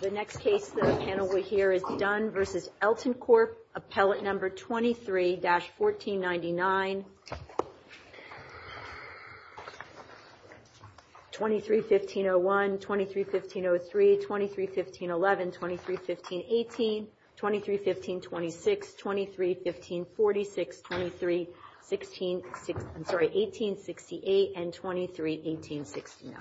The next case that the panel will hear is Dunne v. Elton Corp, Appellate No. 23-1499, 23-1501, 23-1503, 23-1511, 23-1518, 23-1526, 23-1546, 23-1868, and 23-1869.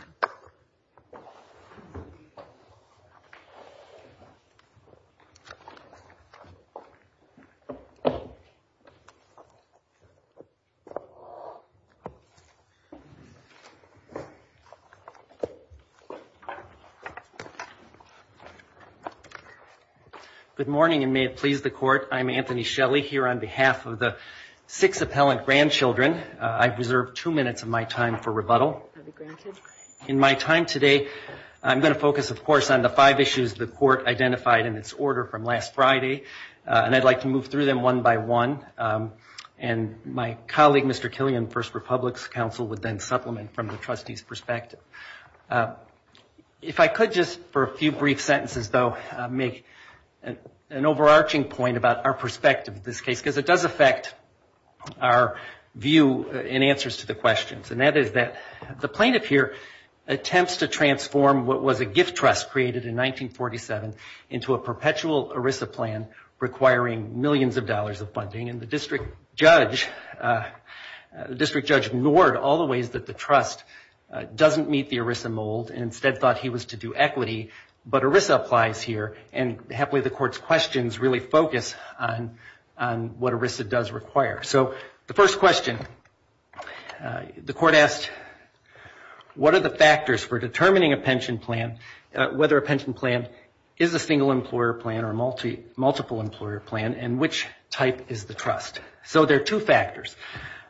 Good morning and may it please the Court. I'm Anthony Shelley here on behalf of the six appellant grandchildren. I've reserved two minutes of my time for rebuttal. In my time today, I'm going to focus, of course, on the five issues the Court identified in its order from last Friday, and I'd like to move through them one by one. And my colleague, Mr. Killian, First Republic's counsel would then supplement from the trustee's perspective. If I could just, for a few brief sentences, though, make an overarching point about our perspective of this case, because it does affect our view and answers to the questions. And that is that the plaintiff here attempts to transform what was a gift trust created in 1947 into a perpetual ERISA plan requiring millions of dollars of funding. And the district judge ignored all the ways that the trust doesn't meet the ERISA mold and instead thought he was to do equity. But ERISA applies here, and happily, the Court's questions really focus on what ERISA does require. So the first question, the Court asked, what are the factors for determining a pension plan, whether a pension plan is a single employer plan or a multiple employer plan, and which type is the trust? So there are two factors.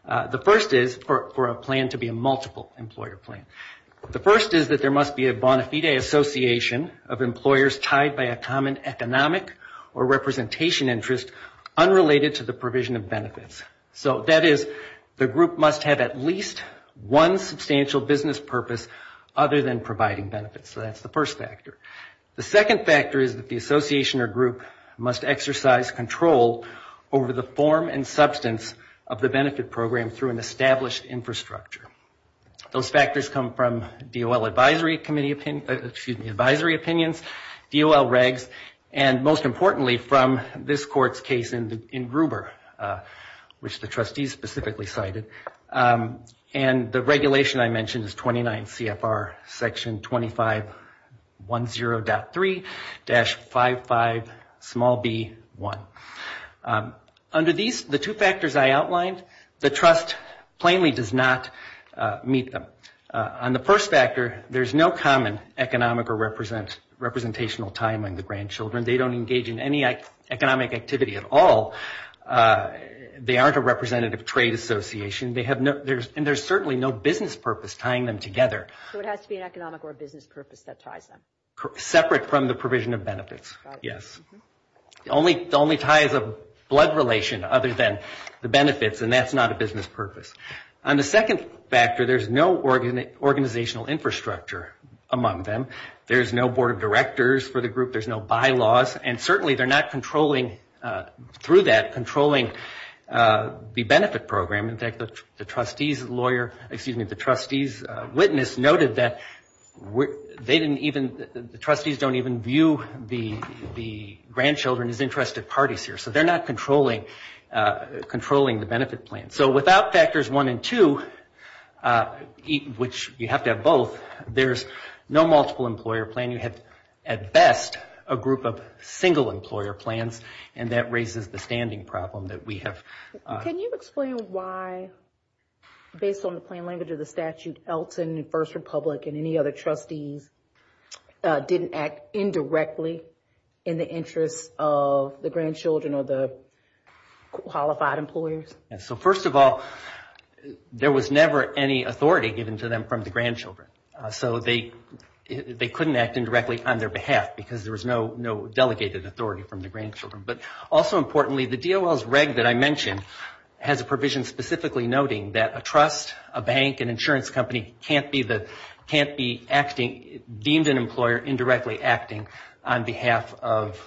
The first is for a plan to be a multiple employer plan. The first is that there must be a bona fide association of employers tied by a common economic or representation interest unrelated to the provision of benefits. So that is the group must have at least one substantial business purpose other than providing benefits. So that's the first factor. The second factor is that the association or group must exercise control over the form and substance of the benefit program through an established infrastructure. Those factors come from DOL advisory opinions, DOL regs, and most importantly from this Court's case in Gruber, which the trustees specifically cited. And the regulation I mentioned is 29 CFR section 2510.3-55b1. Under these, the two factors I outlined, the trust plainly does not meet them. On the first factor, there's no common economic or representational tie among the grandchildren. They don't engage in any economic activity at all. They aren't a representative trade association, and there's certainly no business purpose tying them together. So it has to be an economic or business purpose that ties them? Separate from the provision of benefits, yes. The only tie is a blood relation other than the benefits, and that's not a business purpose. On the second factor, there's no organizational infrastructure among them. There's no board of directors for the group. There's no bylaws, and certainly they're not controlling, through that, controlling the benefit program. In fact, the trustees lawyer, excuse me, the trustees witness noted that they didn't even, the trustees don't even view the grandchildren as interested parties here. So they're not controlling the benefit plan. So without factors one and two, which you have to have both, there's no multiple employer plan. You have, at best, a group of single employer plans, and that raises the standing problem that we have. Can you explain why, based on the plain language of the statute, Elton and First Republic and any other trustees didn't act indirectly in the interest of the grandchildren or the qualified employers? So first of all, there was never any authority given to them from the grandchildren. So they couldn't act indirectly on their behalf because there was no delegated authority from the grandchildren. But also importantly, the DOL's reg that I mentioned has a provision specifically noting that a trust, a bank, an insurance company can't be acting, deemed an employer indirectly acting on behalf of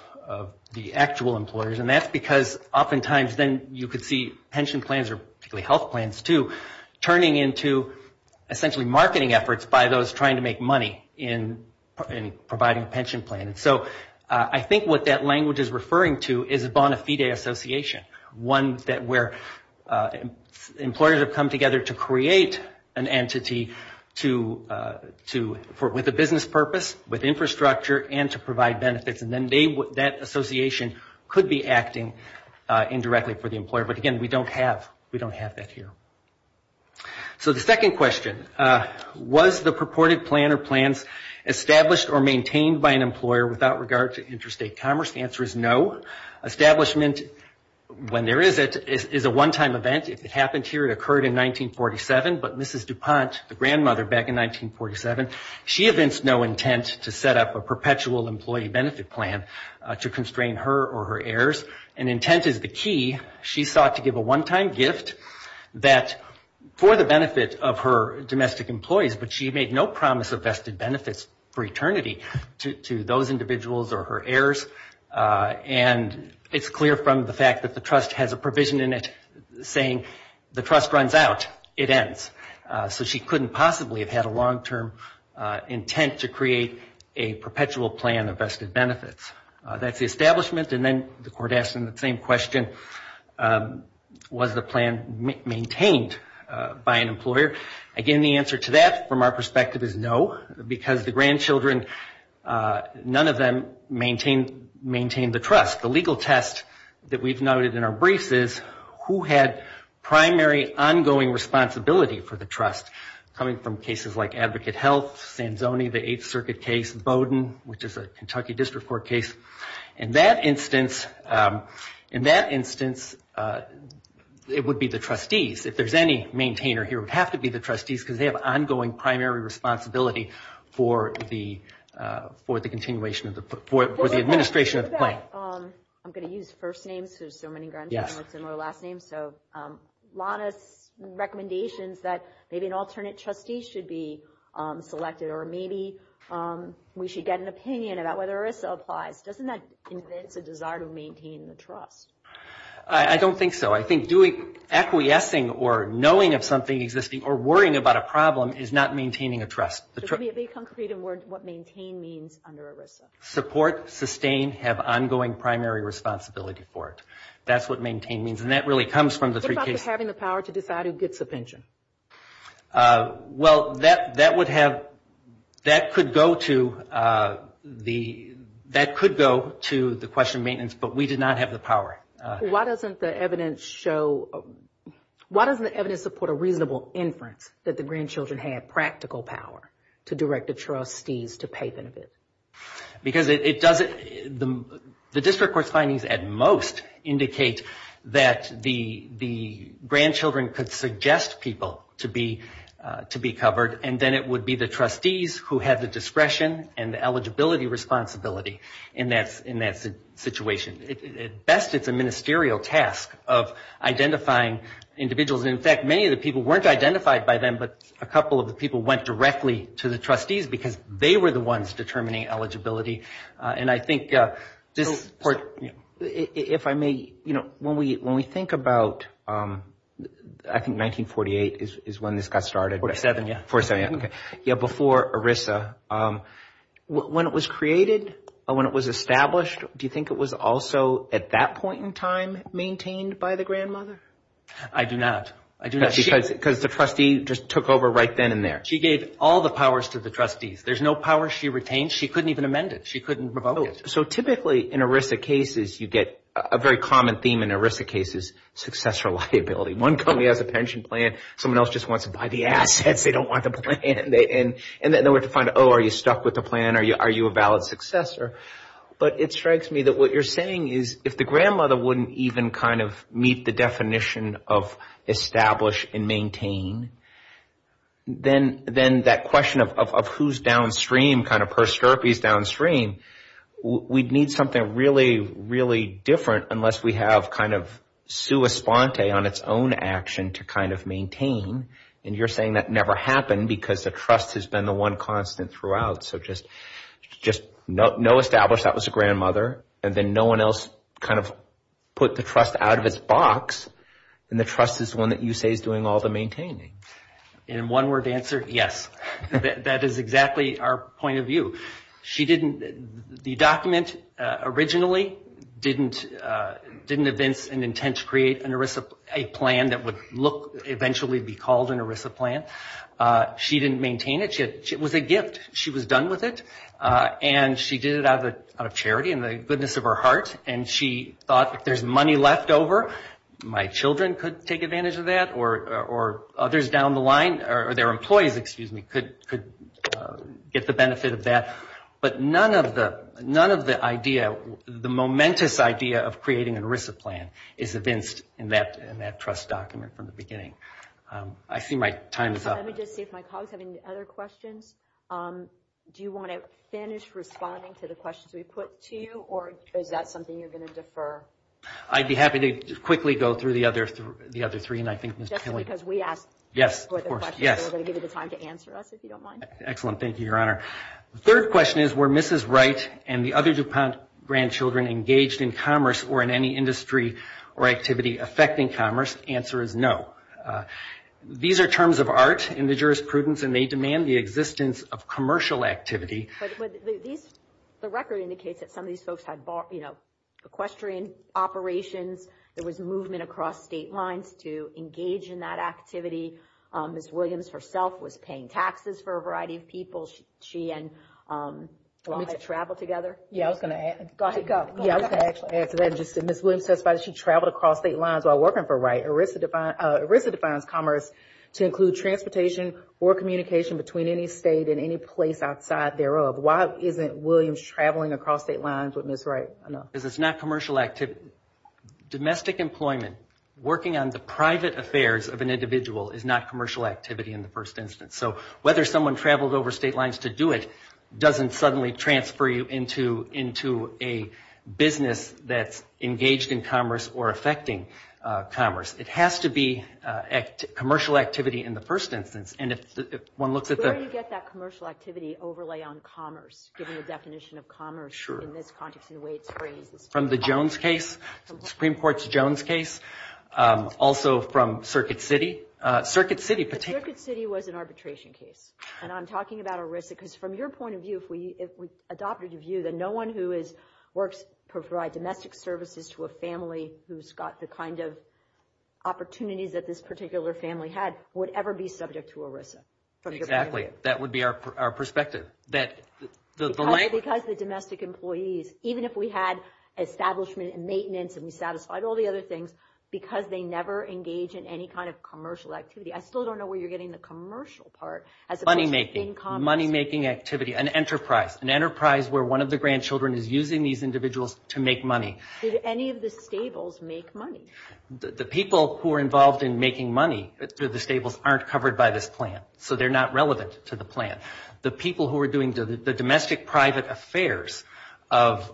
the actual employers. And that's because oftentimes then you could see pension plans or particularly health plans, too, turning into essentially marketing efforts by those trying to make money in providing pension plans. So I think what that language is referring to is a bona fide association, one where employers have come together to create an entity with a business purpose, with infrastructure, and to provide benefits. And then that association could be acting indirectly for the employer. But again, we don't have that here. So the second question, was the purported plan or plans established or maintained by an employer without regard to interstate commerce? The answer is no. Establishment, when there is it, is a one-time event. If it happened here, it occurred in 1947. But Mrs. DuPont, the grandmother back in 1947, she evinced no intent to set up a perpetual employee benefit plan to constrain her or her heirs. And intent is the key. She sought to give a one-time gift that, for the benefit of her domestic employees, but she made no promise of vested benefits for eternity to those individuals or her heirs. And it's clear from the fact that the trust has a provision in it saying the trust runs out, it ends. So she couldn't possibly have had a long-term intent to create a perpetual plan of vested benefits. That's the establishment. And then the court asked the same question, was the plan maintained by an employer? Again, the answer to that from our perspective is no, because the grandchildren, none of them maintained the trust. The legal test that we've noted in our briefs is who had primary ongoing responsibility for the trust, coming from cases like Advocate Health, Sanzoni, the Eighth Circuit case, Bowdoin, which is a Kentucky District Court case. In that instance, it would be the trustees. If there's any maintainer here, it would have to be the trustees, because they have ongoing primary responsibility for the administration of the plan. I'm going to use first names, because there's so many grandchildren with similar last names. So Lana's recommendation is that maybe an alternate trustee should be selected, or maybe we should get an opinion about whether ERISA applies. Doesn't that convince a desire to maintain the trust? I don't think so. I think acquiescing or knowing of something existing or worrying about a problem is not maintaining a trust. Could you be a bit concrete in what maintain means under ERISA? Support, sustain, have ongoing primary responsibility for it. That's what maintain means, and that really comes from the three cases. What about having the power to decide who gets a pension? Well, that would have, that could go to the, that could go to the question of maintenance, but we did not have the power. Why doesn't the evidence show, why doesn't the evidence support a reasonable inference that the grandchildren had practical power to direct the trustees to pay them? Because it doesn't, the district court's findings at most indicate that the grandchildren could suggest people to be covered, and then it would be the trustees who had the discretion and the eligibility responsibility in that situation. At best, it's a ministerial task of identifying individuals. In fact, many of the people weren't identified by them, but a couple of the people went directly to the trustees because they were the ones determining eligibility. And I think this court, if I may, you know, when we think about, I think 1948 is when this got started. 47, yeah. Yeah, before ERISA, when it was created, when it was established, do you think it was also at that point in time maintained by the grandmother? I do not. Because the trustee just took over right then and there. She gave all the powers to the trustees. There's no power she retained. She couldn't even amend it. She couldn't revoke it. So typically, in ERISA cases, you get a very common theme in ERISA cases, successor liability. One company has a pension plan. Someone else just wants to buy the assets. They don't want the plan. And then we have to find out, oh, are you stuck with the plan? Are you a valid successor? But it strikes me that what you're saying is if the grandmother wouldn't even kind of meet the definition of establish and maintain, then that question of who's downstream, kind of per scurvy is downstream, we'd need something really, really different unless we have kind of established that was a grandmother, and then no one else kind of put the trust out of its box, and the trust is one that you say is doing all the maintaining. In one word answer, yes. That is exactly our point of view. She didn't, the document originally didn't evince an intent to create an ERISA plan that would look, eventually be called an ERISA plan. She didn't maintain it. It was a gift. She was done with it. And she did it out of charity and the goodness of her heart, and she thought if there's money left over, my children could take advantage of that, or others down the line, or their employees, excuse me, could get the benefit of that. But none of the idea, the momentous idea of creating an ERISA plan is evinced in that trust document from the beginning. I see my time is up. Let me just see if my colleagues have any other questions. Do you want to finish responding to the questions we put to you, or is that something you're going to defer? I'd be happy to quickly go through the other three, and I think Ms. Killington. Just because we asked for the questions, we're going to give you the time to answer us, if you don't mind. Excellent. Thank you, Your Honor. These are terms of art in the jurisprudence, and they demand the existence of commercial activity. But these, the record indicates that some of these folks had, you know, equestrian operations. There was movement across state lines to engage in that activity. Ms. Williams herself was paying taxes for a variety of people. She and Walt had traveled together. Yeah, I was going to add to that. Ms. Williams testified that she traveled across state lines while working for Wright. ERISA defines commerce to include transportation or communication between any state and any place outside thereof. Why isn't Williams traveling across state lines with Ms. Wright? Because it's not commercial activity. Domestic employment, working on the private affairs of an individual, is not commercial activity in the first instance. So whether someone traveled over state lines to do it doesn't suddenly transfer you into a business that's engaged in commerce or affecting commerce. It has to be commercial activity in the first instance. Where do you get that commercial activity overlay on commerce, given the definition of commerce in this context and the way it's phrased? From the Jones case, the Supreme Court's Jones case, also from Circuit City. Circuit City was an arbitration case. And I'm talking about ERISA because from your point of view, if we adopted a view that no one who works to provide domestic services to a family who's got the kind of opportunities that this particular family had would ever be subject to arbitration. Exactly. That would be our perspective. Because the domestic employees, even if we had establishment and maintenance and we satisfied all the other things, because they never engage in any kind of commercial activity. I still don't know where you're getting the commercial part as opposed to in commerce. Money making. Money making activity, an enterprise, an enterprise where one of the grandchildren is using these individuals to make money. Did any of the stables make money? The people who are involved in making money through the stables aren't covered by this plan. So they're not relevant to the plan. The people who are doing the domestic private affairs of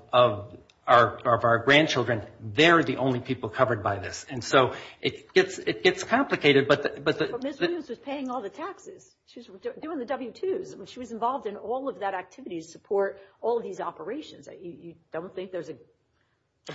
our grandchildren, they're the only people covered by this. And so it gets complicated. But Ms. Williams was paying all the taxes. She was doing the W-2s. She was involved in all of that activity to support all of these operations. You don't think there's a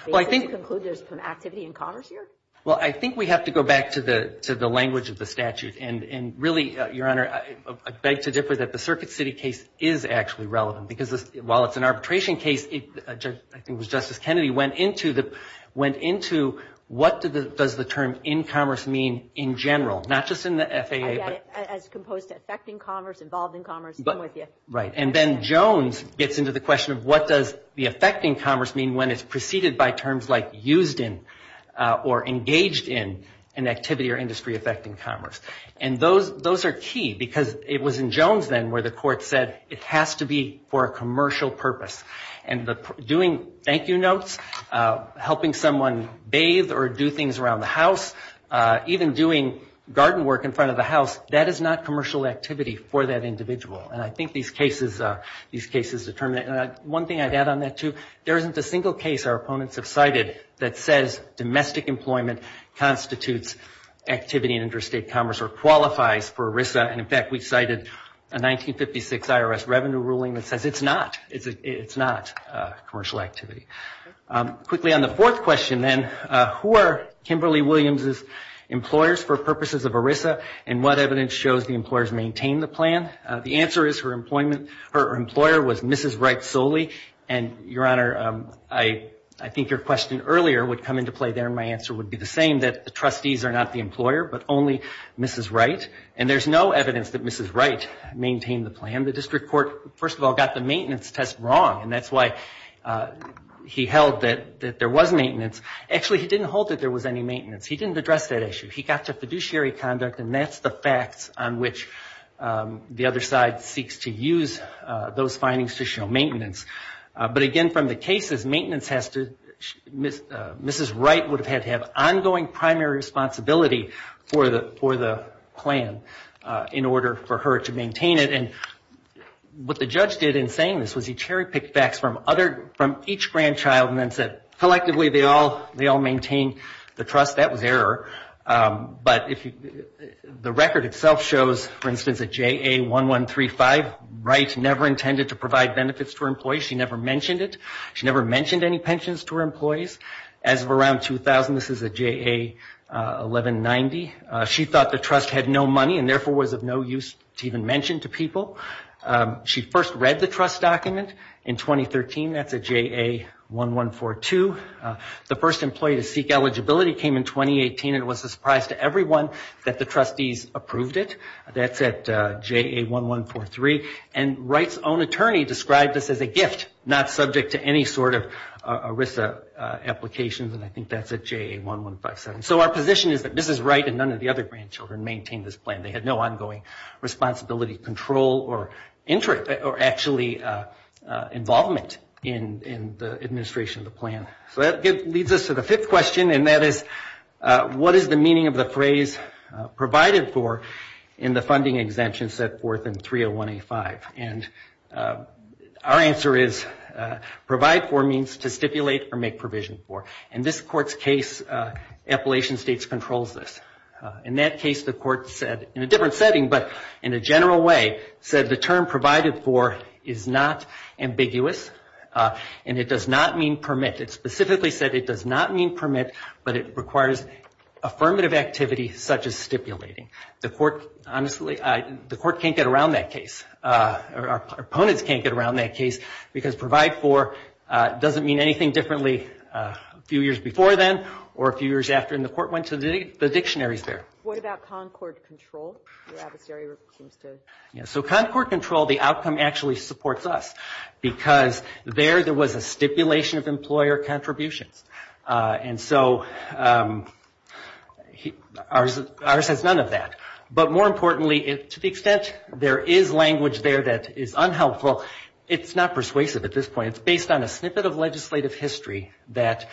basis to conclude there's some activity in commerce here? Well, I think we have to go back to the language of the statute. And really, Your Honor, I beg to differ that the Circuit City case is actually relevant. Because while it's an arbitration case, I think it was Justice Kennedy went into what does the term in commerce mean in general? Not just in the FAA. I get it. As opposed to affecting commerce, involved in commerce, I'm with you. Right. And then Jones gets into the question of what does the affecting commerce mean when it's preceded by terms like used in or engaged in an activity or industry affecting commerce. And those are key. Because it was in Jones then where the court said it has to be for a commercial purpose. And doing thank you notes, helping someone bathe or do things around the house, even doing garden work in front of the house, that is not commercial activity for that individual. And I think these cases determine that. And one thing I'd add on that, too, there isn't a single case our opponents have cited that says domestic employment constitutes activity in interstate commerce or qualifies for ERISA. And in fact, we cited a 1956 IRS revenue ruling that says it's not. It's not commercial activity. Quickly on the fourth question, then, who are Kimberly Williams' employers for purposes of ERISA and what evidence shows the employers maintain the plan? The answer is her employer was Mrs. Wright solely. And, Your Honor, I think your question earlier would come into play there and my answer would be the same, that the trustees are not the employer but only Mrs. Wright. And there's no evidence that Mrs. Wright maintained the plan. And the district court, first of all, got the maintenance test wrong. And that's why he held that there was maintenance. Actually, he didn't hold that there was any maintenance. He didn't address that issue. He got to fiduciary conduct and that's the facts on which the other side seeks to use those findings to show maintenance. But again, from the cases, Mrs. Wright would have had to have ongoing primary responsibility for the plan in order for her to maintain it. What the judge did in saying this was he cherry-picked facts from each grandchild and then said, collectively, they all maintain the trust. That was error. But the record itself shows, for instance, that JA 1135, Wright never intended to provide benefits to her employees. She never mentioned it. She never mentioned any pensions to her employees. As of around 2000, this is a JA 1190, she thought the trust had no money and therefore was of no use to even mention to people. She first read the trust document in 2013, that's a JA 1142. The first employee to seek eligibility came in 2018 and it was a surprise to everyone that the trustees approved it. That's at JA 1143. And Wright's own attorney described this as a gift, not subject to any sort of ERISA applications. And I think that's at JA 1157. So our position is that Mrs. Wright and none of the other grandchildren maintained this plan. They had no ongoing responsibility, control, or actually involvement in the administration of the plan. So that leads us to the fifth question, and that is, what is the meaning of the phrase provided for in the funding exemption set forth in 30185? And our answer is, provide for means to stipulate or make provision for. In this court's case, Appalachian States controls this. In that case, the court said, in a different setting, but in a general way, said the term provided for is not ambiguous and it does not mean permit. It specifically said it does not mean permit, but it requires affirmative activity such as stipulating. The court, honestly, the court can't get around that case. Opponents can't get around that case, because provide for doesn't mean anything differently a few years before then or a few years after. And the court went to the dictionaries there. So Concord Control, the outcome actually supports us, because there, there was a stipulation of employer contributions. And so ERISA has none of that. But more importantly, to the extent there is language there that is unhelpful, it's not persuasive at this point. It's based on a snippet of legislative history that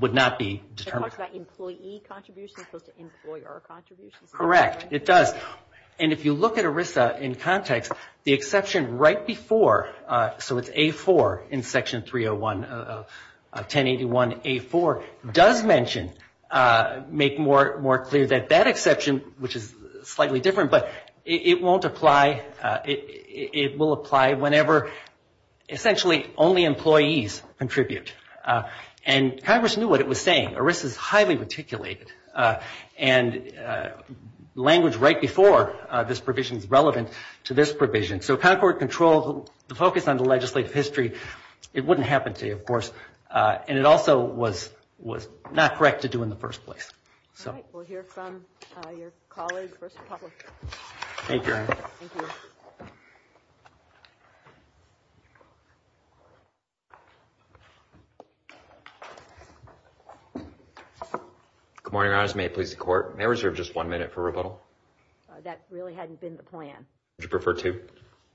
would not be determined. It talks about employee contributions as opposed to employer contributions. Correct, it does. And if you look at ERISA in context, the exception right before, so it's A4 in Section 301, 1081A4, does mention, make more clear that that is slightly different, but it won't apply, it will apply whenever essentially only employees contribute. And Congress knew what it was saying. ERISA is highly articulated, and language right before this provision is relevant to this provision. So Concord Control, the focus on the legislative history, it wouldn't happen to you, of course. And it also was not correct to do in the first place. Thank you, Your Honor. Good morning, Your Honors. May it please the Court? May I reserve just one minute for rebuttal? That really hadn't been the plan.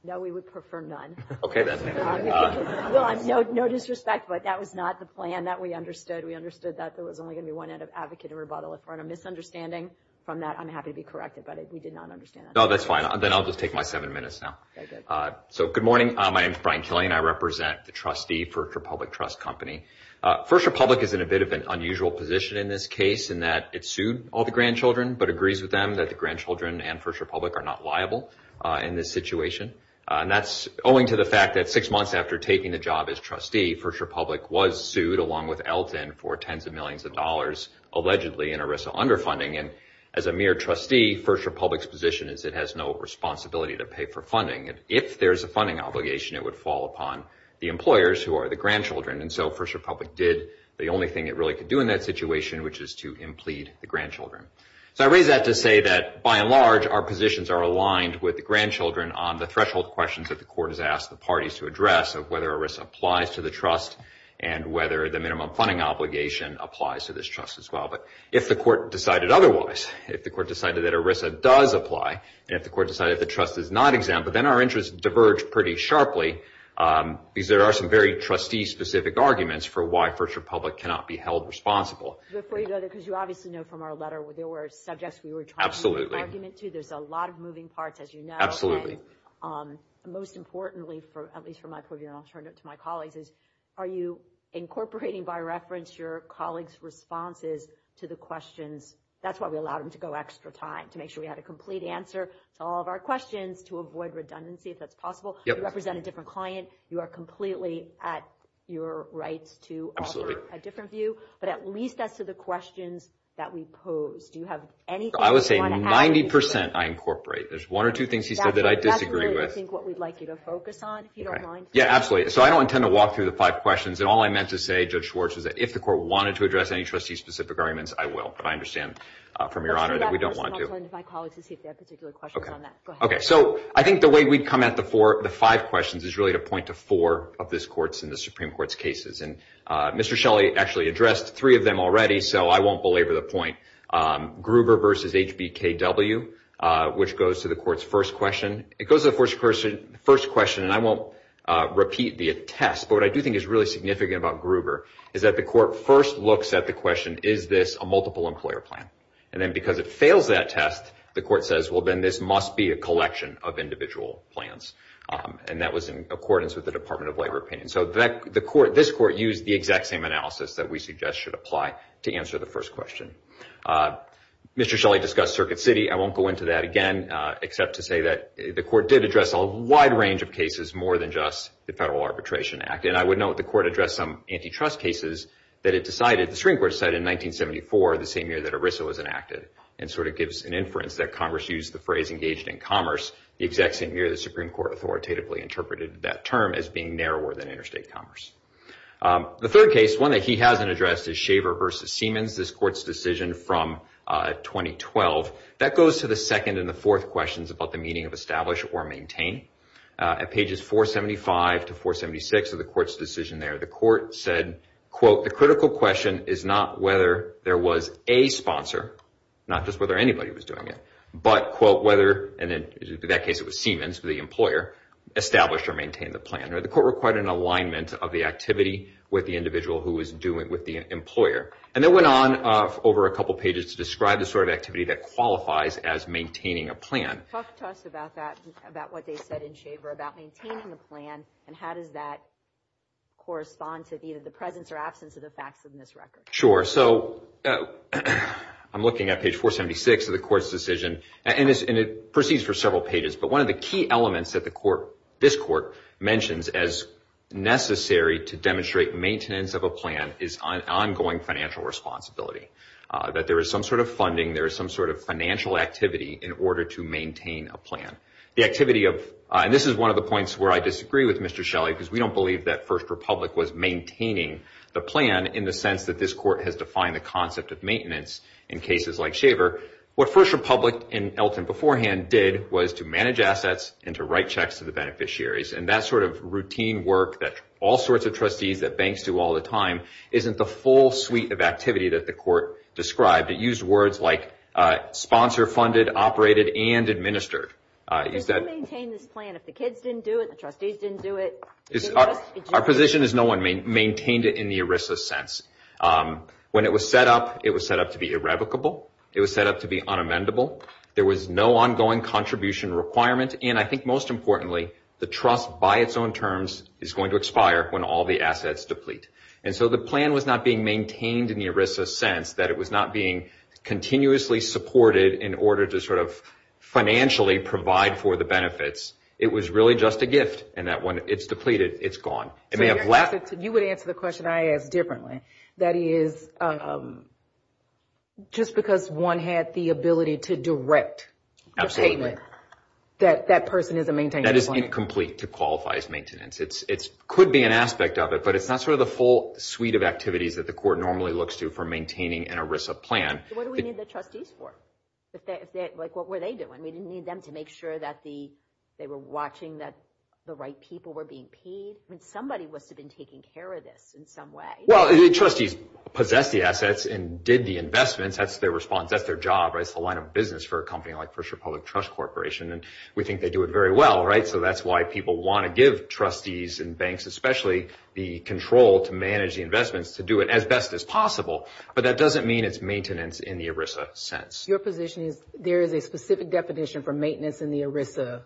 No, we would prefer none. Okay, then. Well, no disrespect, but that was not the plan that we understood. We understood that there was only going to be one end of advocate and rebuttal. If we're in a misunderstanding from that, I'm happy to be corrected, but we did not understand that. No, that's fine. Then I'll just take my seven minutes now. So good morning. My name is Brian Killian. I represent the trustee for First Republic Trust Company. First Republic is in a bit of an unusual position in this case in that it sued all the grandchildren but agrees with them that the grandchildren and First Republic are not liable in this situation. And that's owing to the fact that six months after taking the job as trustee, First Republic was sued along with Elton for tens of millions of dollars allegedly in ERISA underfunding. And as a mere trustee, First Republic's position is it has no responsibility to pay for funding. And if there's a funding obligation, it would fall upon the employers who are the grandchildren. And so First Republic did the only thing it really could do in that situation, which is to implead the grandchildren. So I raise that to say that, by and large, our positions are aligned with the grandchildren on the threshold questions that the court has asked the parties to address of whether ERISA applies to the trust and whether the minimum funding obligation applies to this trust as well. But if the court decided otherwise, if the court decided that ERISA does apply, and if the court decided the trust is not exempt, then our interests diverge pretty sharply because there are some very trustee-specific arguments for why First Republic cannot be held responsible. Before you go there, because you obviously know from our letter there were subjects we were trying to make an argument to. There's a lot of moving parts, as you know. Absolutely. Most importantly, at least from my point of view, and I'll turn it to my colleagues, is are you incorporating by reference your colleagues' responses to the questions? That's why we allowed them to go extra time, to make sure we had a complete answer to all of our questions, to avoid redundancy if that's possible. You represent a different client. You are completely at your rights to offer a different view. But at least as to the questions that we pose, do you have anything you want to add? I would say 90 percent I incorporate. There's one or two things he said that I disagree with. That's really, I think, what we'd like you to focus on, if you don't mind. Yeah, absolutely. So I don't intend to walk through the five questions, and all I meant to say, Judge Schwartz, was that if the court wanted to address any trustee-specific arguments, I will. But I understand from Your Honor that we don't want to. I'll turn that question over to my colleagues to see if they have particular questions on that. Go ahead. Okay. So I think the way we'd come at the five questions is really to point to four of this Court's and the Supreme Court's cases. And Mr. Shelley actually addressed three of them already, so I won't belabor the point. Gruber v. HBKW, which goes to the Court's first question. It goes to the first question, and I won't repeat the test, but what I do think is really significant about Gruber is that the Court first looks at the question, is this a multiple employer plan? And then because it fails that test, the Court says, well, then this must be a collection of individual plans. And that was in accordance with the Department of Labor opinion. So this Court used the exact same analysis that we suggest should apply to answer the first question. Mr. Shelley discussed Circuit City. I won't go into that again, except to say that the Court did address a wide range of cases, more than just the Federal Arbitration Act. And I would note the Court addressed some antitrust cases that it decided. The Supreme Court decided in 1974, the same year that ERISA was enacted, and sort of gives an inference that Congress used the phrase engaged in commerce, the exact same year the Supreme Court authoritatively interpreted that term as being narrower than interstate commerce. The third case, one that he hasn't addressed, is Shaver v. Siemens, this Court's decision from 2012. That goes to the second and the fourth questions about the meaning of establish or maintain. At pages 475 to 476 of the Court's decision there, the Court said, quote, the critical question is not whether there was a sponsor, not just whether anybody was doing it, but, quote, whether, and in that case it was Siemens, the employer, established or maintained the plan. The Court required an alignment of the activity with the individual who was doing it with the employer. And it went on over a couple pages to describe the sort of activity that qualifies as maintaining a plan. Talk to us about that, about what they said in Shaver, about maintaining the plan, and how does that correspond to either the presence or absence of the facts in this record? Sure. So I'm looking at page 476 of the Court's decision, and it proceeds for several pages, but one of the key elements that this Court mentions as necessary to demonstrate maintenance of a plan is ongoing financial responsibility, that there is some sort of funding, there is some sort of financial activity in order to maintain a plan. The activity of, and this is one of the points where I disagree with Mr. Shelley, because we don't believe that First Republic was maintaining the plan in the sense that this Court has defined the concept of maintenance in cases like Shaver. What First Republic and Elton beforehand did was to manage assets and to write checks to the beneficiaries, and that sort of routine work that all sorts of trustees, that banks do all the time, isn't the full suite of activity that the Court described. It used words like sponsor-funded, operated, and administered. Because who maintained this plan? If the kids didn't do it, the trustees didn't do it? Our position is no one maintained it in the ERISA sense. When it was set up, it was set up to be irrevocable. It was set up to be unamendable. There was no ongoing contribution requirement, and I think most importantly, the trust by its own terms is going to expire when all the assets deplete. And so the plan was not being maintained in the ERISA sense, that it was not being continuously supported in order to sort of financially provide for the benefits. It was really just a gift in that when it's depleted, it's gone. You would answer the question I asked differently. That is, just because one had the ability to direct the payment, that that person isn't maintaining the plan? That is incomplete to qualify as maintenance. It could be an aspect of it, but it's not sort of the full suite of activities that the court normally looks to for maintaining an ERISA plan. What do we need the trustees for? Like, what were they doing? We didn't need them to make sure that they were watching that the right people were being paid? I mean, somebody must have been taking care of this in some way. Well, the trustees possessed the assets and did the investments. That's their response. That's their job, right? It's the line of business for a company like First Republic Trust Corporation, and we think they do it very well, right? So that's why people want to give trustees and banks, especially, the control to manage the investments to do it as best as possible, but that doesn't mean it's maintenance in the ERISA sense. Your position is there is a specific definition for maintenance in the ERISA,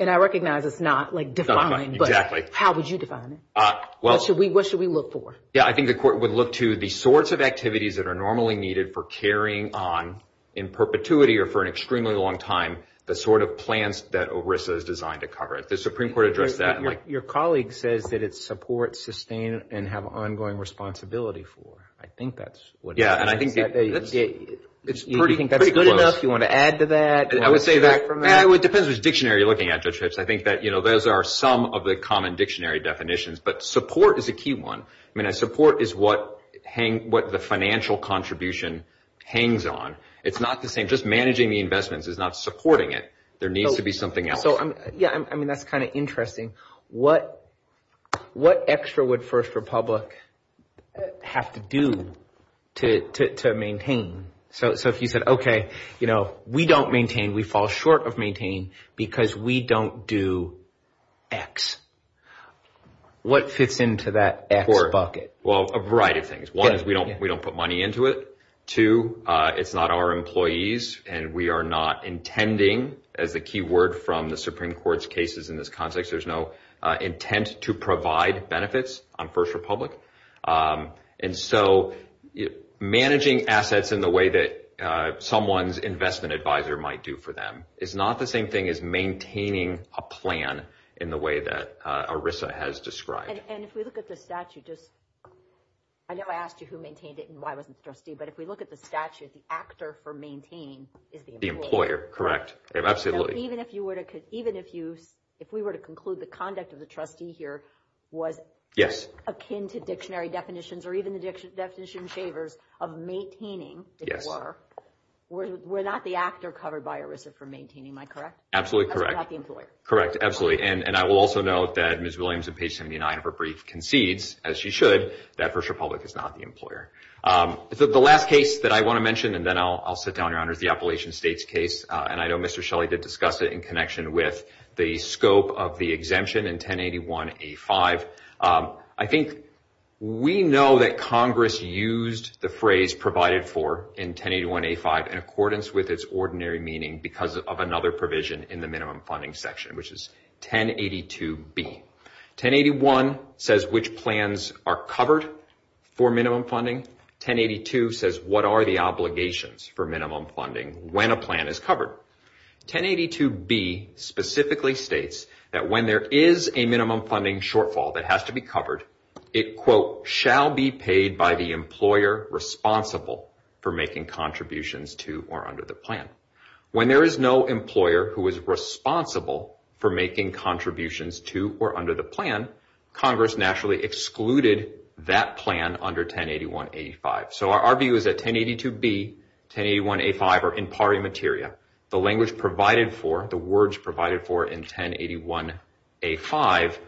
and I recognize it's not, like, defined, but how would you define it? What should we look for? Yeah, I think the court would look to the sorts of activities that are normally needed for carrying on in perpetuity or for an extremely long time, the sort of plans that ERISA is designed to cover. The Supreme Court addressed that. Your colleague says that it's support, sustain, and have ongoing responsibility for. I think that's what it is. Yeah, and I think that's pretty close. Do you think that's good enough? Do you want to add to that? I would say that it depends which dictionary you're looking at, Judge Hips. I think that those are some of the common dictionary definitions, but support is a key one. I mean, support is what the financial contribution hangs on. It's not the same. Just managing the investments is not supporting it. There needs to be something else. Yeah, I mean, that's kind of interesting. What extra would First Republic have to do to maintain? So if you said, okay, we don't maintain. We fall short of maintain because we don't do X. What fits into that X bucket? Well, a variety of things. One is we don't put money into it. Two, it's not our employees, and we are not intending, as the key word from the Supreme Court's cases in this context, there's no intent to provide benefits on First Republic. And so managing assets in the way that someone's investment advisor might do for them is not the same thing as maintaining a plan in the way that ERISA has described. And if we look at the statute, I know I asked you who maintained it and why it wasn't the trustee, but if we look at the statute, the actor for maintain is the employer. The employer, correct. So even if we were to conclude the conduct of the trustee here was akin to dictionary definitions or even the definition shavers of maintaining, if it were, we're not the actor covered by ERISA for maintaining, am I correct? Absolutely correct. That's not the employer. Correct, absolutely. And I will also note that Ms. Williams, on page 79 of her brief, concedes, as she should, that First Republic is not the employer. The last case that I want to mention, and then I'll sit down, Your Honor, is the Appalachian States case. And I know Mr. Shelley did discuss it in connection with the scope of the exemption in 1081A5. I think we know that Congress used the phrase provided for in 1081A5 in accordance with its ordinary meaning because of another provision in the minimum funding section, which is 1082B. 1081 says which plans are covered for minimum funding. 1082 says what are the obligations for minimum funding when a plan is covered. 1082B specifically states that when there is a minimum funding shortfall that has to be covered, it, quote, shall be paid by the employer responsible for making contributions to or under the plan. When there is no employer who is responsible for making contributions to or under the plan, Congress naturally excluded that plan under 1081A5. So our view is that 1082B, 1081A5 are in pari materia. The language provided for, the words provided for in 1081A5,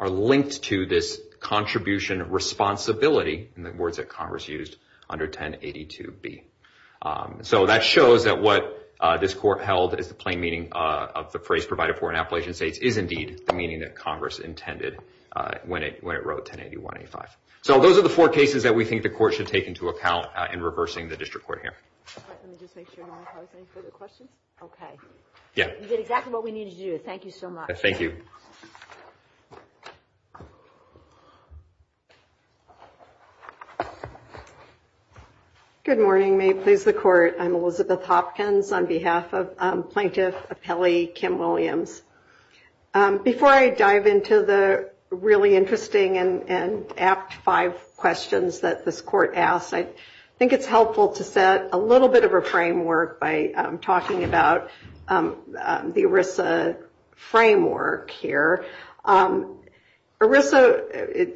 are linked to this contribution responsibility, in the words that Congress used, under 1082B. So that shows that what this court held is the plain meaning of the phrase provided for in Appalachian States is indeed the meaning that Congress intended when it wrote 1081A5. So those are the four cases that we think the court should take into account in reversing the district court here. Let me just make sure I don't have any further questions. Okay. Yeah. You did exactly what we needed you to do. Thank you so much. Thank you. Good morning. May it please the court. I'm Elizabeth Hopkins on behalf of Plaintiff Appellee Kim Williams. Before I dive into the really interesting and apt five questions that this court asked, I think it's helpful to set a little bit of a framework by talking about the ERISA framework here. ERISA,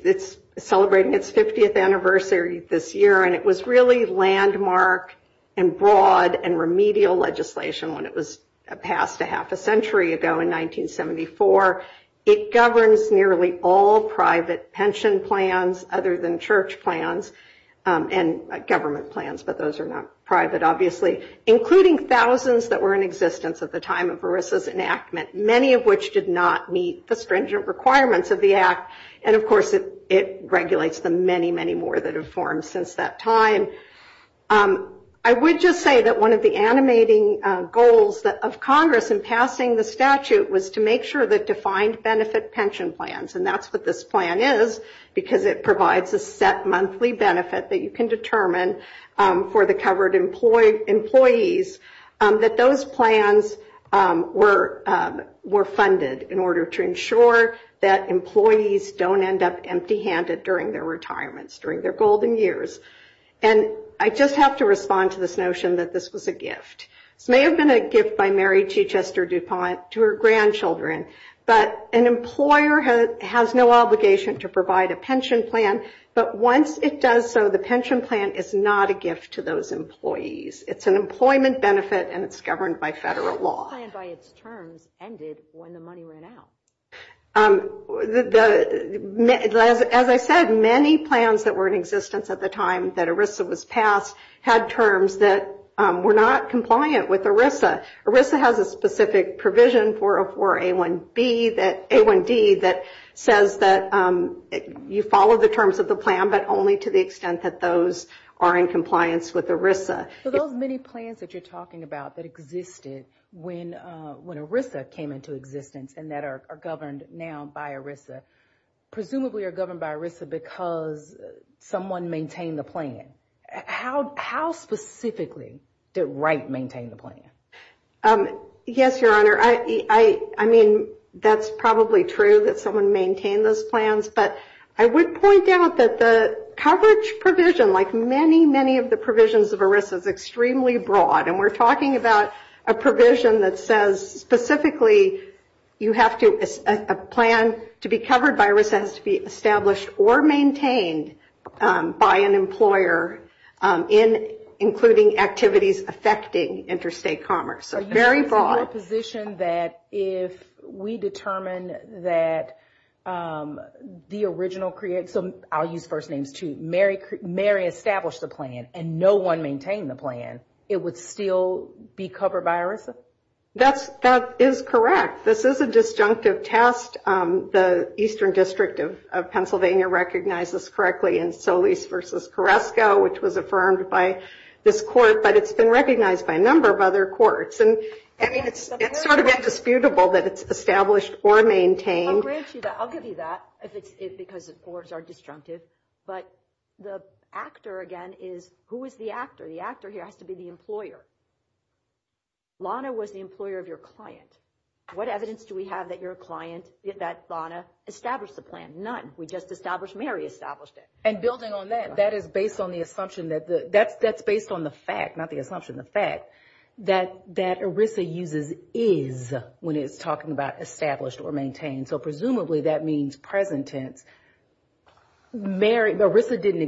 it's celebrating its 50th anniversary this year, and it was really landmark and broad and remedial legislation when it was passed a half a century ago in 1974. It governs nearly all private pension plans other than church plans and government plans, but those are not private, obviously, including thousands that were in existence at the time of ERISA's enactment, many of which did not meet the stringent requirements of the act. And, of course, it regulates the many, many more that have formed since that time. I would just say that one of the animating goals of Congress in passing the statute was to make sure that defined benefit pension plans, and that's what this plan is because it provides a set monthly benefit that you can determine for the covered employees, that those plans were funded in order to ensure that employees don't end up empty-handed during their retirements, and I just have to respond to this notion that this was a gift. This may have been a gift by Mary T. Chester DuPont to her grandchildren, but an employer has no obligation to provide a pension plan, but once it does so, the pension plan is not a gift to those employees. It's an employment benefit, and it's governed by federal law. ended when the money went out? As I said, many plans that were in existence at the time that ERISA was passed had terms that were not compliant with ERISA. ERISA has a specific provision for A1D that says that you follow the terms of the plan, but only to the extent that those are in compliance with ERISA. So those many plans that you're talking about that existed when ERISA came into existence and that are governed now by ERISA, presumably are governed by ERISA because someone maintained the plan. How specifically did Wright maintain the plan? Yes, Your Honor. I mean, that's probably true that someone maintained those plans, but I would point out that the coverage provision, like many, many of the provisions of ERISA, is extremely broad, and we're talking about a provision that says, specifically, a plan to be covered by ERISA has to be established or maintained by an employer, including activities affecting interstate commerce. So you're in a position that if we determine that the original, so I'll use first names too, Mary established the plan and no one maintained the plan, it would still be covered by ERISA? That is correct. This is a disjunctive test. The Eastern District of Pennsylvania recognizes correctly in Solis v. Carrasco, which was affirmed by this court, but it's been recognized by a number of other courts, and it's sort of indisputable that it's established or maintained. I'll grant you that. I'll give you that because the courts are disjunctive, but the actor, again, is who is the actor? The actor here has to be the employer. Lana was the employer of your client. What evidence do we have that your client, that Lana, established the plan? None. We just established Mary established it. And building on that, that is based on the assumption, that's based on the fact, not the assumption, the fact that ERISA uses is when it's talking about established or maintained. So presumably that means present tense. ERISA didn't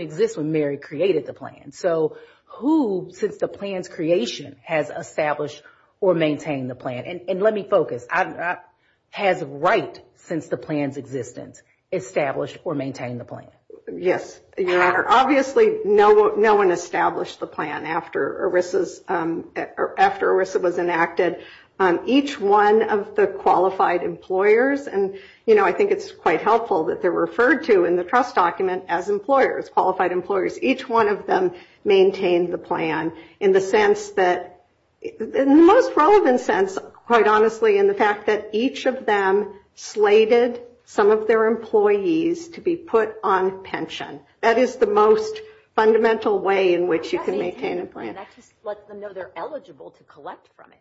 exist when Mary created the plan. So who, since the plan's creation, has established or maintained the plan? And let me focus. Has right, since the plan's existence, established or maintained the plan? Yes, Your Honor. Obviously no one established the plan after ERISA was enacted. Each one of the qualified employers, and, you know, I think it's quite helpful that they're referred to in the trust document as employers, qualified employers, each one of them maintained the plan in the sense that, in the most relevant sense, quite honestly, in the fact that each of them slated some of their employees to be put on pension. That is the most fundamental way in which you can maintain a plan. That just lets them know they're eligible to collect from it.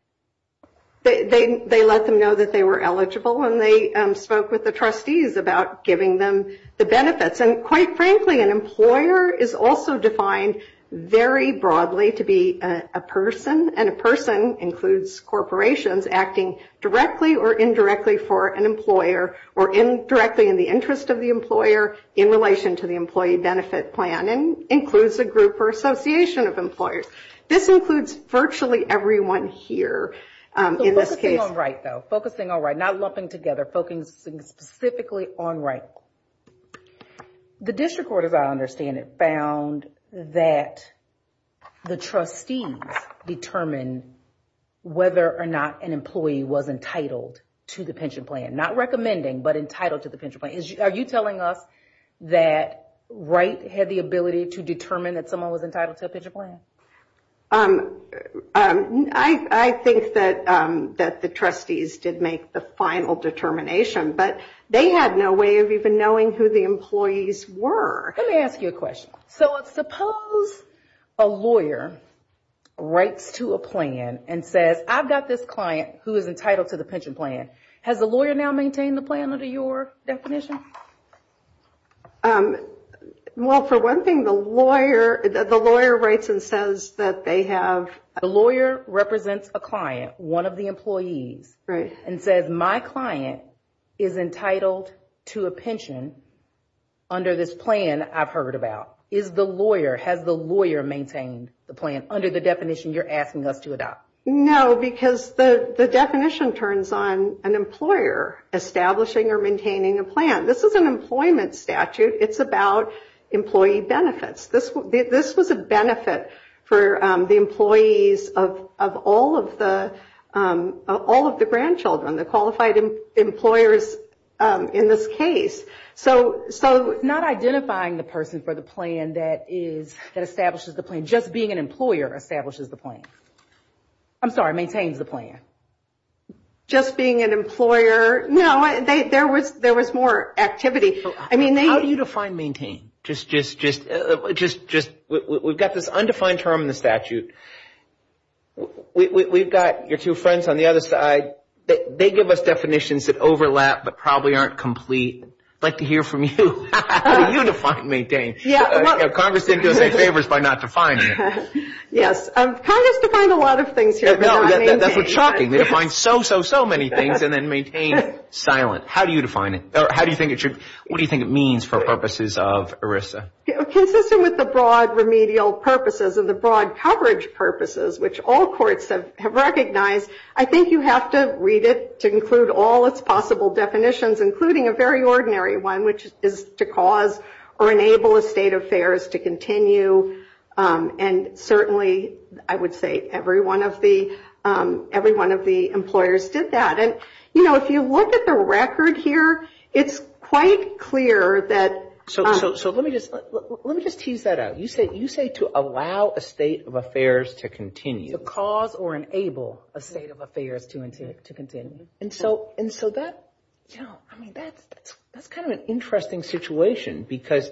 They let them know that they were eligible, and they spoke with the trustees about giving them the benefits. And quite frankly, an employer is also defined very broadly to be a person, and a person includes corporations acting directly or indirectly for an employer, or directly in the interest of the employer in relation to the employee benefit plan, and includes a group or association of employers. This includes virtually everyone here in this case. So focusing on right, though, focusing on right, not lumping together, focusing specifically on right. The district court, as I understand it, found that the trustees determined whether or not an employee was entitled to the pension plan. Not recommending, but entitled to the pension plan. Are you telling us that right had the ability to determine that someone was entitled to a pension plan? I think that the trustees did make the final determination, but they had no way of even knowing who the employees were. Let me ask you a question. So suppose a lawyer writes to a plan and says, I've got this client who is entitled to the pension plan. Has the lawyer now maintained the plan under your definition? Well, for one thing, the lawyer writes and says that they have. The lawyer represents a client, one of the employees. Right. And says my client is entitled to a pension under this plan I've heard about. Is the lawyer, has the lawyer maintained the plan under the definition you're asking us to adopt? No, because the definition turns on an employer establishing or maintaining a plan. This is an employment statute. It's about employee benefits. This was a benefit for the employees of all of the grandchildren, the qualified employers in this case. So not identifying the person for the plan that establishes the plan, just being an employer establishes the plan. I'm sorry, maintains the plan. Just being an employer. No, there was more activity. How do you define maintain? We've got this undefined term in the statute. We've got your two friends on the other side. They give us definitions that overlap but probably aren't complete. I'd like to hear from you. How do you define maintain? Congress didn't do us any favors by not defining it. Yes, Congress defined a lot of things here. That's what's shocking. They define so, so, so many things and then maintain silent. How do you define it? What do you think it means for purposes of ERISA? Consistent with the broad remedial purposes and the broad coverage purposes, which all courts have recognized, I think you have to read it to include all its possible definitions, including a very ordinary one, which is to cause or enable a state of affairs to continue. And certainly I would say every one of the employers did that. If you look at the record here, it's quite clear that... Let me just tease that out. You say to allow a state of affairs to continue. To cause or enable a state of affairs to continue. That's kind of an interesting situation because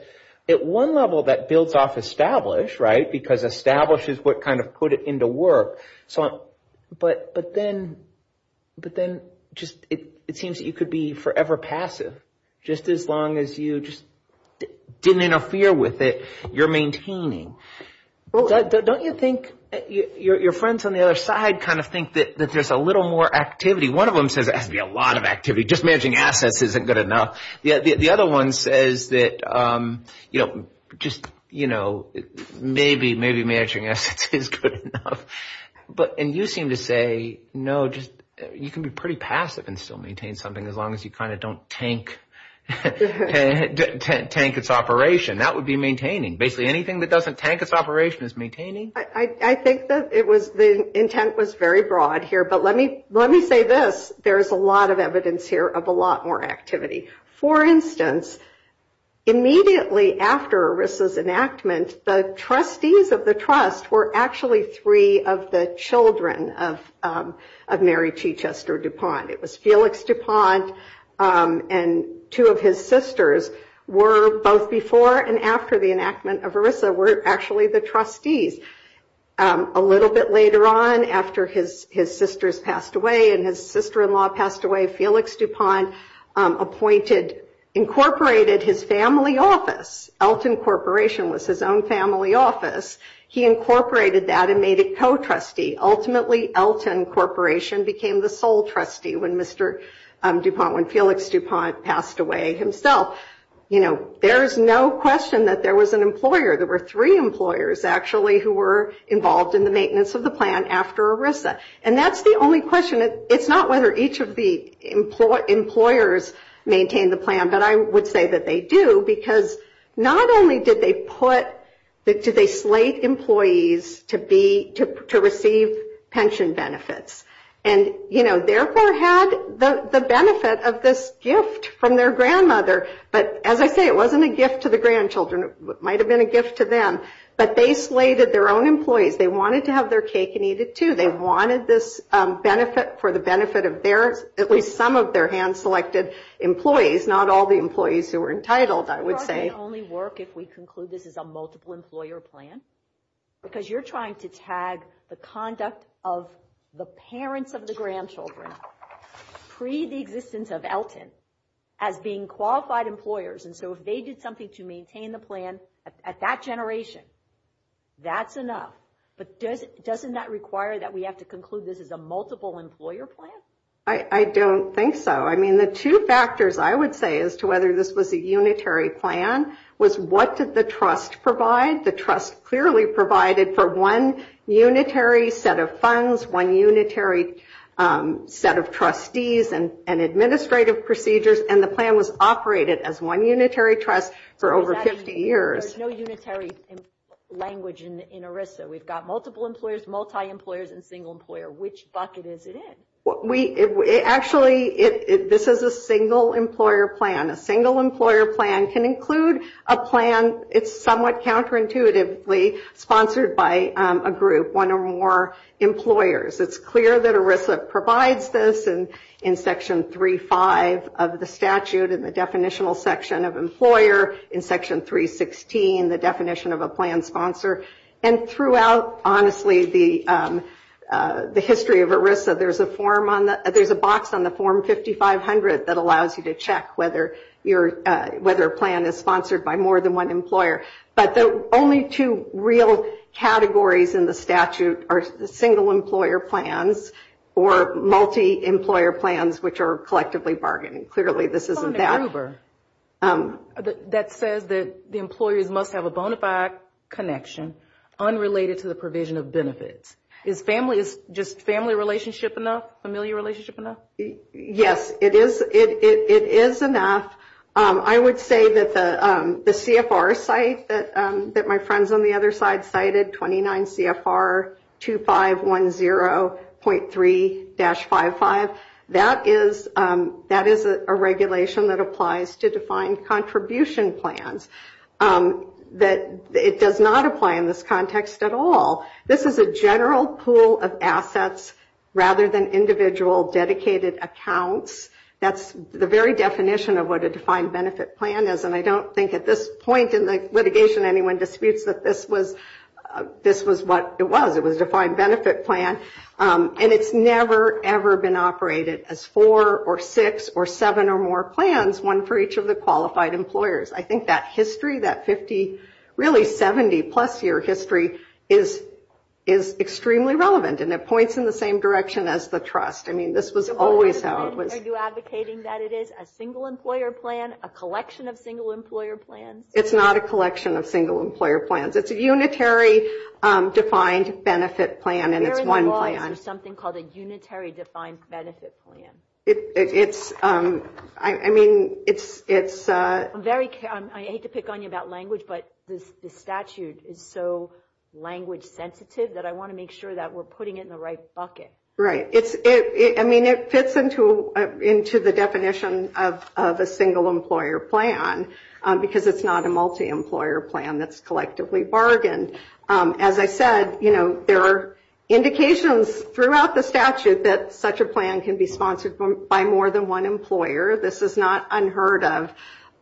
at one level that builds off establish, right, because establish is what kind of put it into work. But then it seems that you could be forever passive just as long as you just didn't interfere with it. You're maintaining. Don't you think your friends on the other side kind of think that there's a little more activity? One of them says there has to be a lot of activity. Just managing assets isn't good enough. The other one says that, you know, maybe managing assets is good enough. And you seem to say, no, you can be pretty passive and still maintain something as long as you kind of don't tank its operation. That would be maintaining. Basically anything that doesn't tank its operation is maintaining. I think that the intent was very broad here. But let me say this. There's a lot of evidence here of a lot more activity. For instance, immediately after ERISA's enactment, the trustees of the trust were actually three of the children of Mary T. Chester DuPont. It was Felix DuPont and two of his sisters were both before and after the enactment of ERISA were actually the trustees. A little bit later on, after his sisters passed away and his sister-in-law passed away, Felix DuPont incorporated his family office. Elton Corporation was his own family office. He incorporated that and made it co-trustee. Ultimately, Elton Corporation became the sole trustee when Felix DuPont passed away himself. You know, there is no question that there was an employer. There were employers actually who were involved in the maintenance of the plan after ERISA. That's the only question. It's not whether each of the employers maintained the plan, but I would say that they do. Not only did they slate employees to receive pension benefits, and therefore had the benefit of this gift from their grandmother. But as I say, it wasn't a gift to the grandchildren. It might have been a gift to them. But they slated their own employees. They wanted to have their cake and eat it, too. They wanted this benefit for the benefit of at least some of their hand-selected employees, not all the employees who were entitled, I would say. It probably would only work if we conclude this is a multiple-employer plan, because you're trying to tag the conduct of the parents of the grandchildren, pre the existence of Elton, as being qualified employers. And so if they did something to maintain the plan at that generation, that's enough. But doesn't that require that we have to conclude this is a multiple-employer plan? I don't think so. I mean, the two factors, I would say, as to whether this was a unitary plan, was what did the trust provide. The trust clearly provided for one unitary set of funds, one unitary set of trustees and administrative procedures, and the plan was operated as one unitary trust for over 50 years. There's no unitary language in ERISA. We've got multiple employers, multi-employers, and single employer. Which bucket is it in? Actually, this is a single-employer plan. A single-employer plan can include a plan. It's somewhat counterintuitively sponsored by a group, one or more employers. It's clear that ERISA provides this in Section 3.5 of the statute in the definitional section of employer, in Section 3.16, the definition of a plan sponsor. And throughout, honestly, the history of ERISA, there's a box on the Form 5500 that allows you to check whether a plan is sponsored by more than one employer. But the only two real categories in the statute are single-employer plans or multi-employer plans, which are collectively bargaining. Clearly, this isn't that. That says that the employers must have a bona fide connection unrelated to the provision of benefits. Is family relationship enough, familial relationship enough? Yes, it is enough. I would say that the CFR site that my friends on the other side cited, 29 CFR 2510.3-55, that is a regulation that applies to defined contribution plans. It does not apply in this context at all. This is a general pool of assets rather than individual dedicated accounts. That's the very definition of what a defined benefit plan is. And I don't think at this point in the litigation anyone disputes that this was what it was. It was a defined benefit plan. And it's never, ever been operated as four or six or seven or more plans, one for each of the qualified employers. I think that history, that 50, really 70-plus year history, is extremely relevant. And it points in the same direction as the trust. I mean, this was always how it was. Are you advocating that it is a single employer plan, a collection of single employer plans? It's not a collection of single employer plans. It's a unitary defined benefit plan, and it's one plan. Where in the law is there something called a unitary defined benefit plan? It's, I mean, it's- I hate to pick on you about language, but the statute is so language sensitive that I want to make sure that we're putting it in the right bucket. Right. I mean, it fits into the definition of a single employer plan because it's not a multi-employer plan that's collectively bargained. As I said, you know, there are indications throughout the statute that such a plan can be sponsored by more than one employer. This is not unheard of.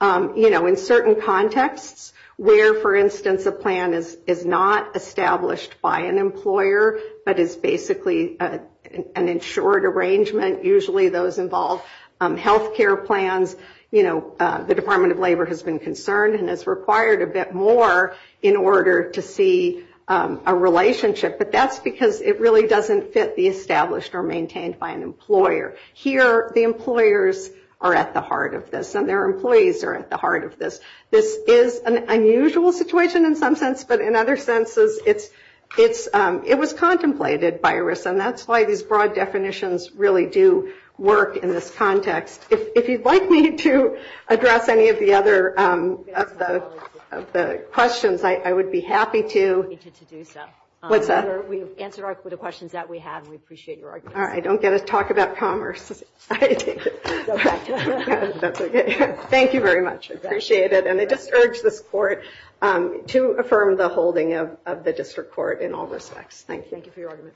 You know, in certain contexts where, for instance, a plan is not established by an employer but is basically an insured arrangement, usually those involve health care plans, you know, the Department of Labor has been concerned and has required a bit more in order to see a relationship. But that's because it really doesn't fit the established or maintained by an employer. Here, the employers are at the heart of this, and their employees are at the heart of this. This is an unusual situation in some sense, but in other senses, it was contemplated by ERIS, and that's why these broad definitions really do work in this context. If you'd like me to address any of the other questions, I would be happy to. We've answered all the questions that we have, and we appreciate your arguments. All right. I don't get to talk about commerce. That's okay. Thank you very much. Appreciate it. And I just urge this court to affirm the holding of the district court in all respects. Thank you. Thank you for your argument.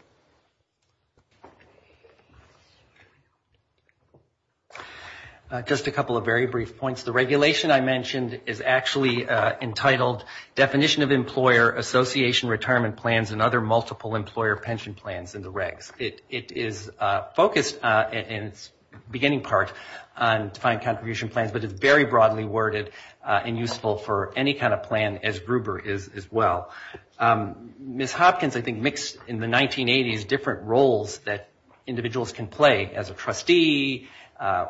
Just a couple of very brief points. The regulation I mentioned is actually entitled Definition of Employer Association Retirement Plans and Other Multiple Employer Pension Plans in the Regs. It is focused in its beginning part on defined contribution plans, but it's very broadly worded and useful for any kind of plan, as Gruber is as well. Ms. Hopkins, I think, mixed in the 1980s different roles that individuals can play as a trustee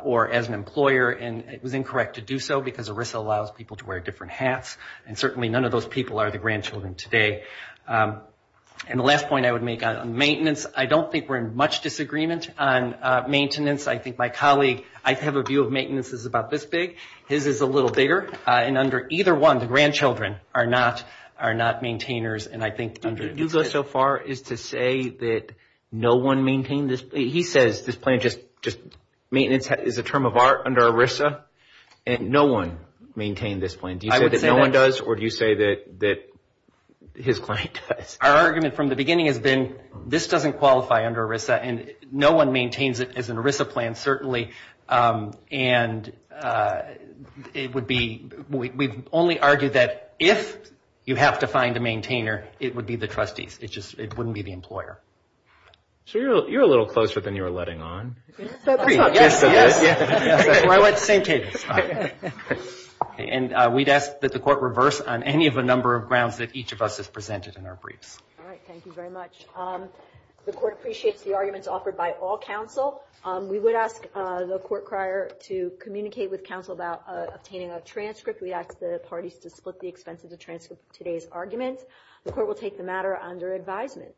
or as an employer, and it was incorrect to do so because ERIS allows people to wear different hats, and certainly none of those people are the grandchildren today. And the last point I would make on maintenance, I don't think we're in much disagreement on maintenance. I think my colleague, I have a view of maintenance as about this big. His is a little bigger. And under either one, the grandchildren are not maintainers. Do you go so far as to say that no one maintained this? He says this plan just maintenance is a term of art under ERISA, and no one maintained this plan. Do you say that no one does, or do you say that his client does? Our argument from the beginning has been this doesn't qualify under ERISA, and no one maintains it as an ERISA plan, certainly. And it would be, we've only argued that if you have to find a maintainer, it would be the trustees. It just wouldn't be the employer. So you're a little closer than you were letting on. That's not true. That's where I went, the same cadence. And we'd ask that the court reverse on any of a number of grounds that each of us has presented in our briefs. All right. Thank you very much. The court appreciates the arguments offered by all counsel. We would ask the court crier to communicate with counsel about obtaining a transcript. We ask the parties to split the expense of the transcript of today's argument. The court will take the matter under advisement.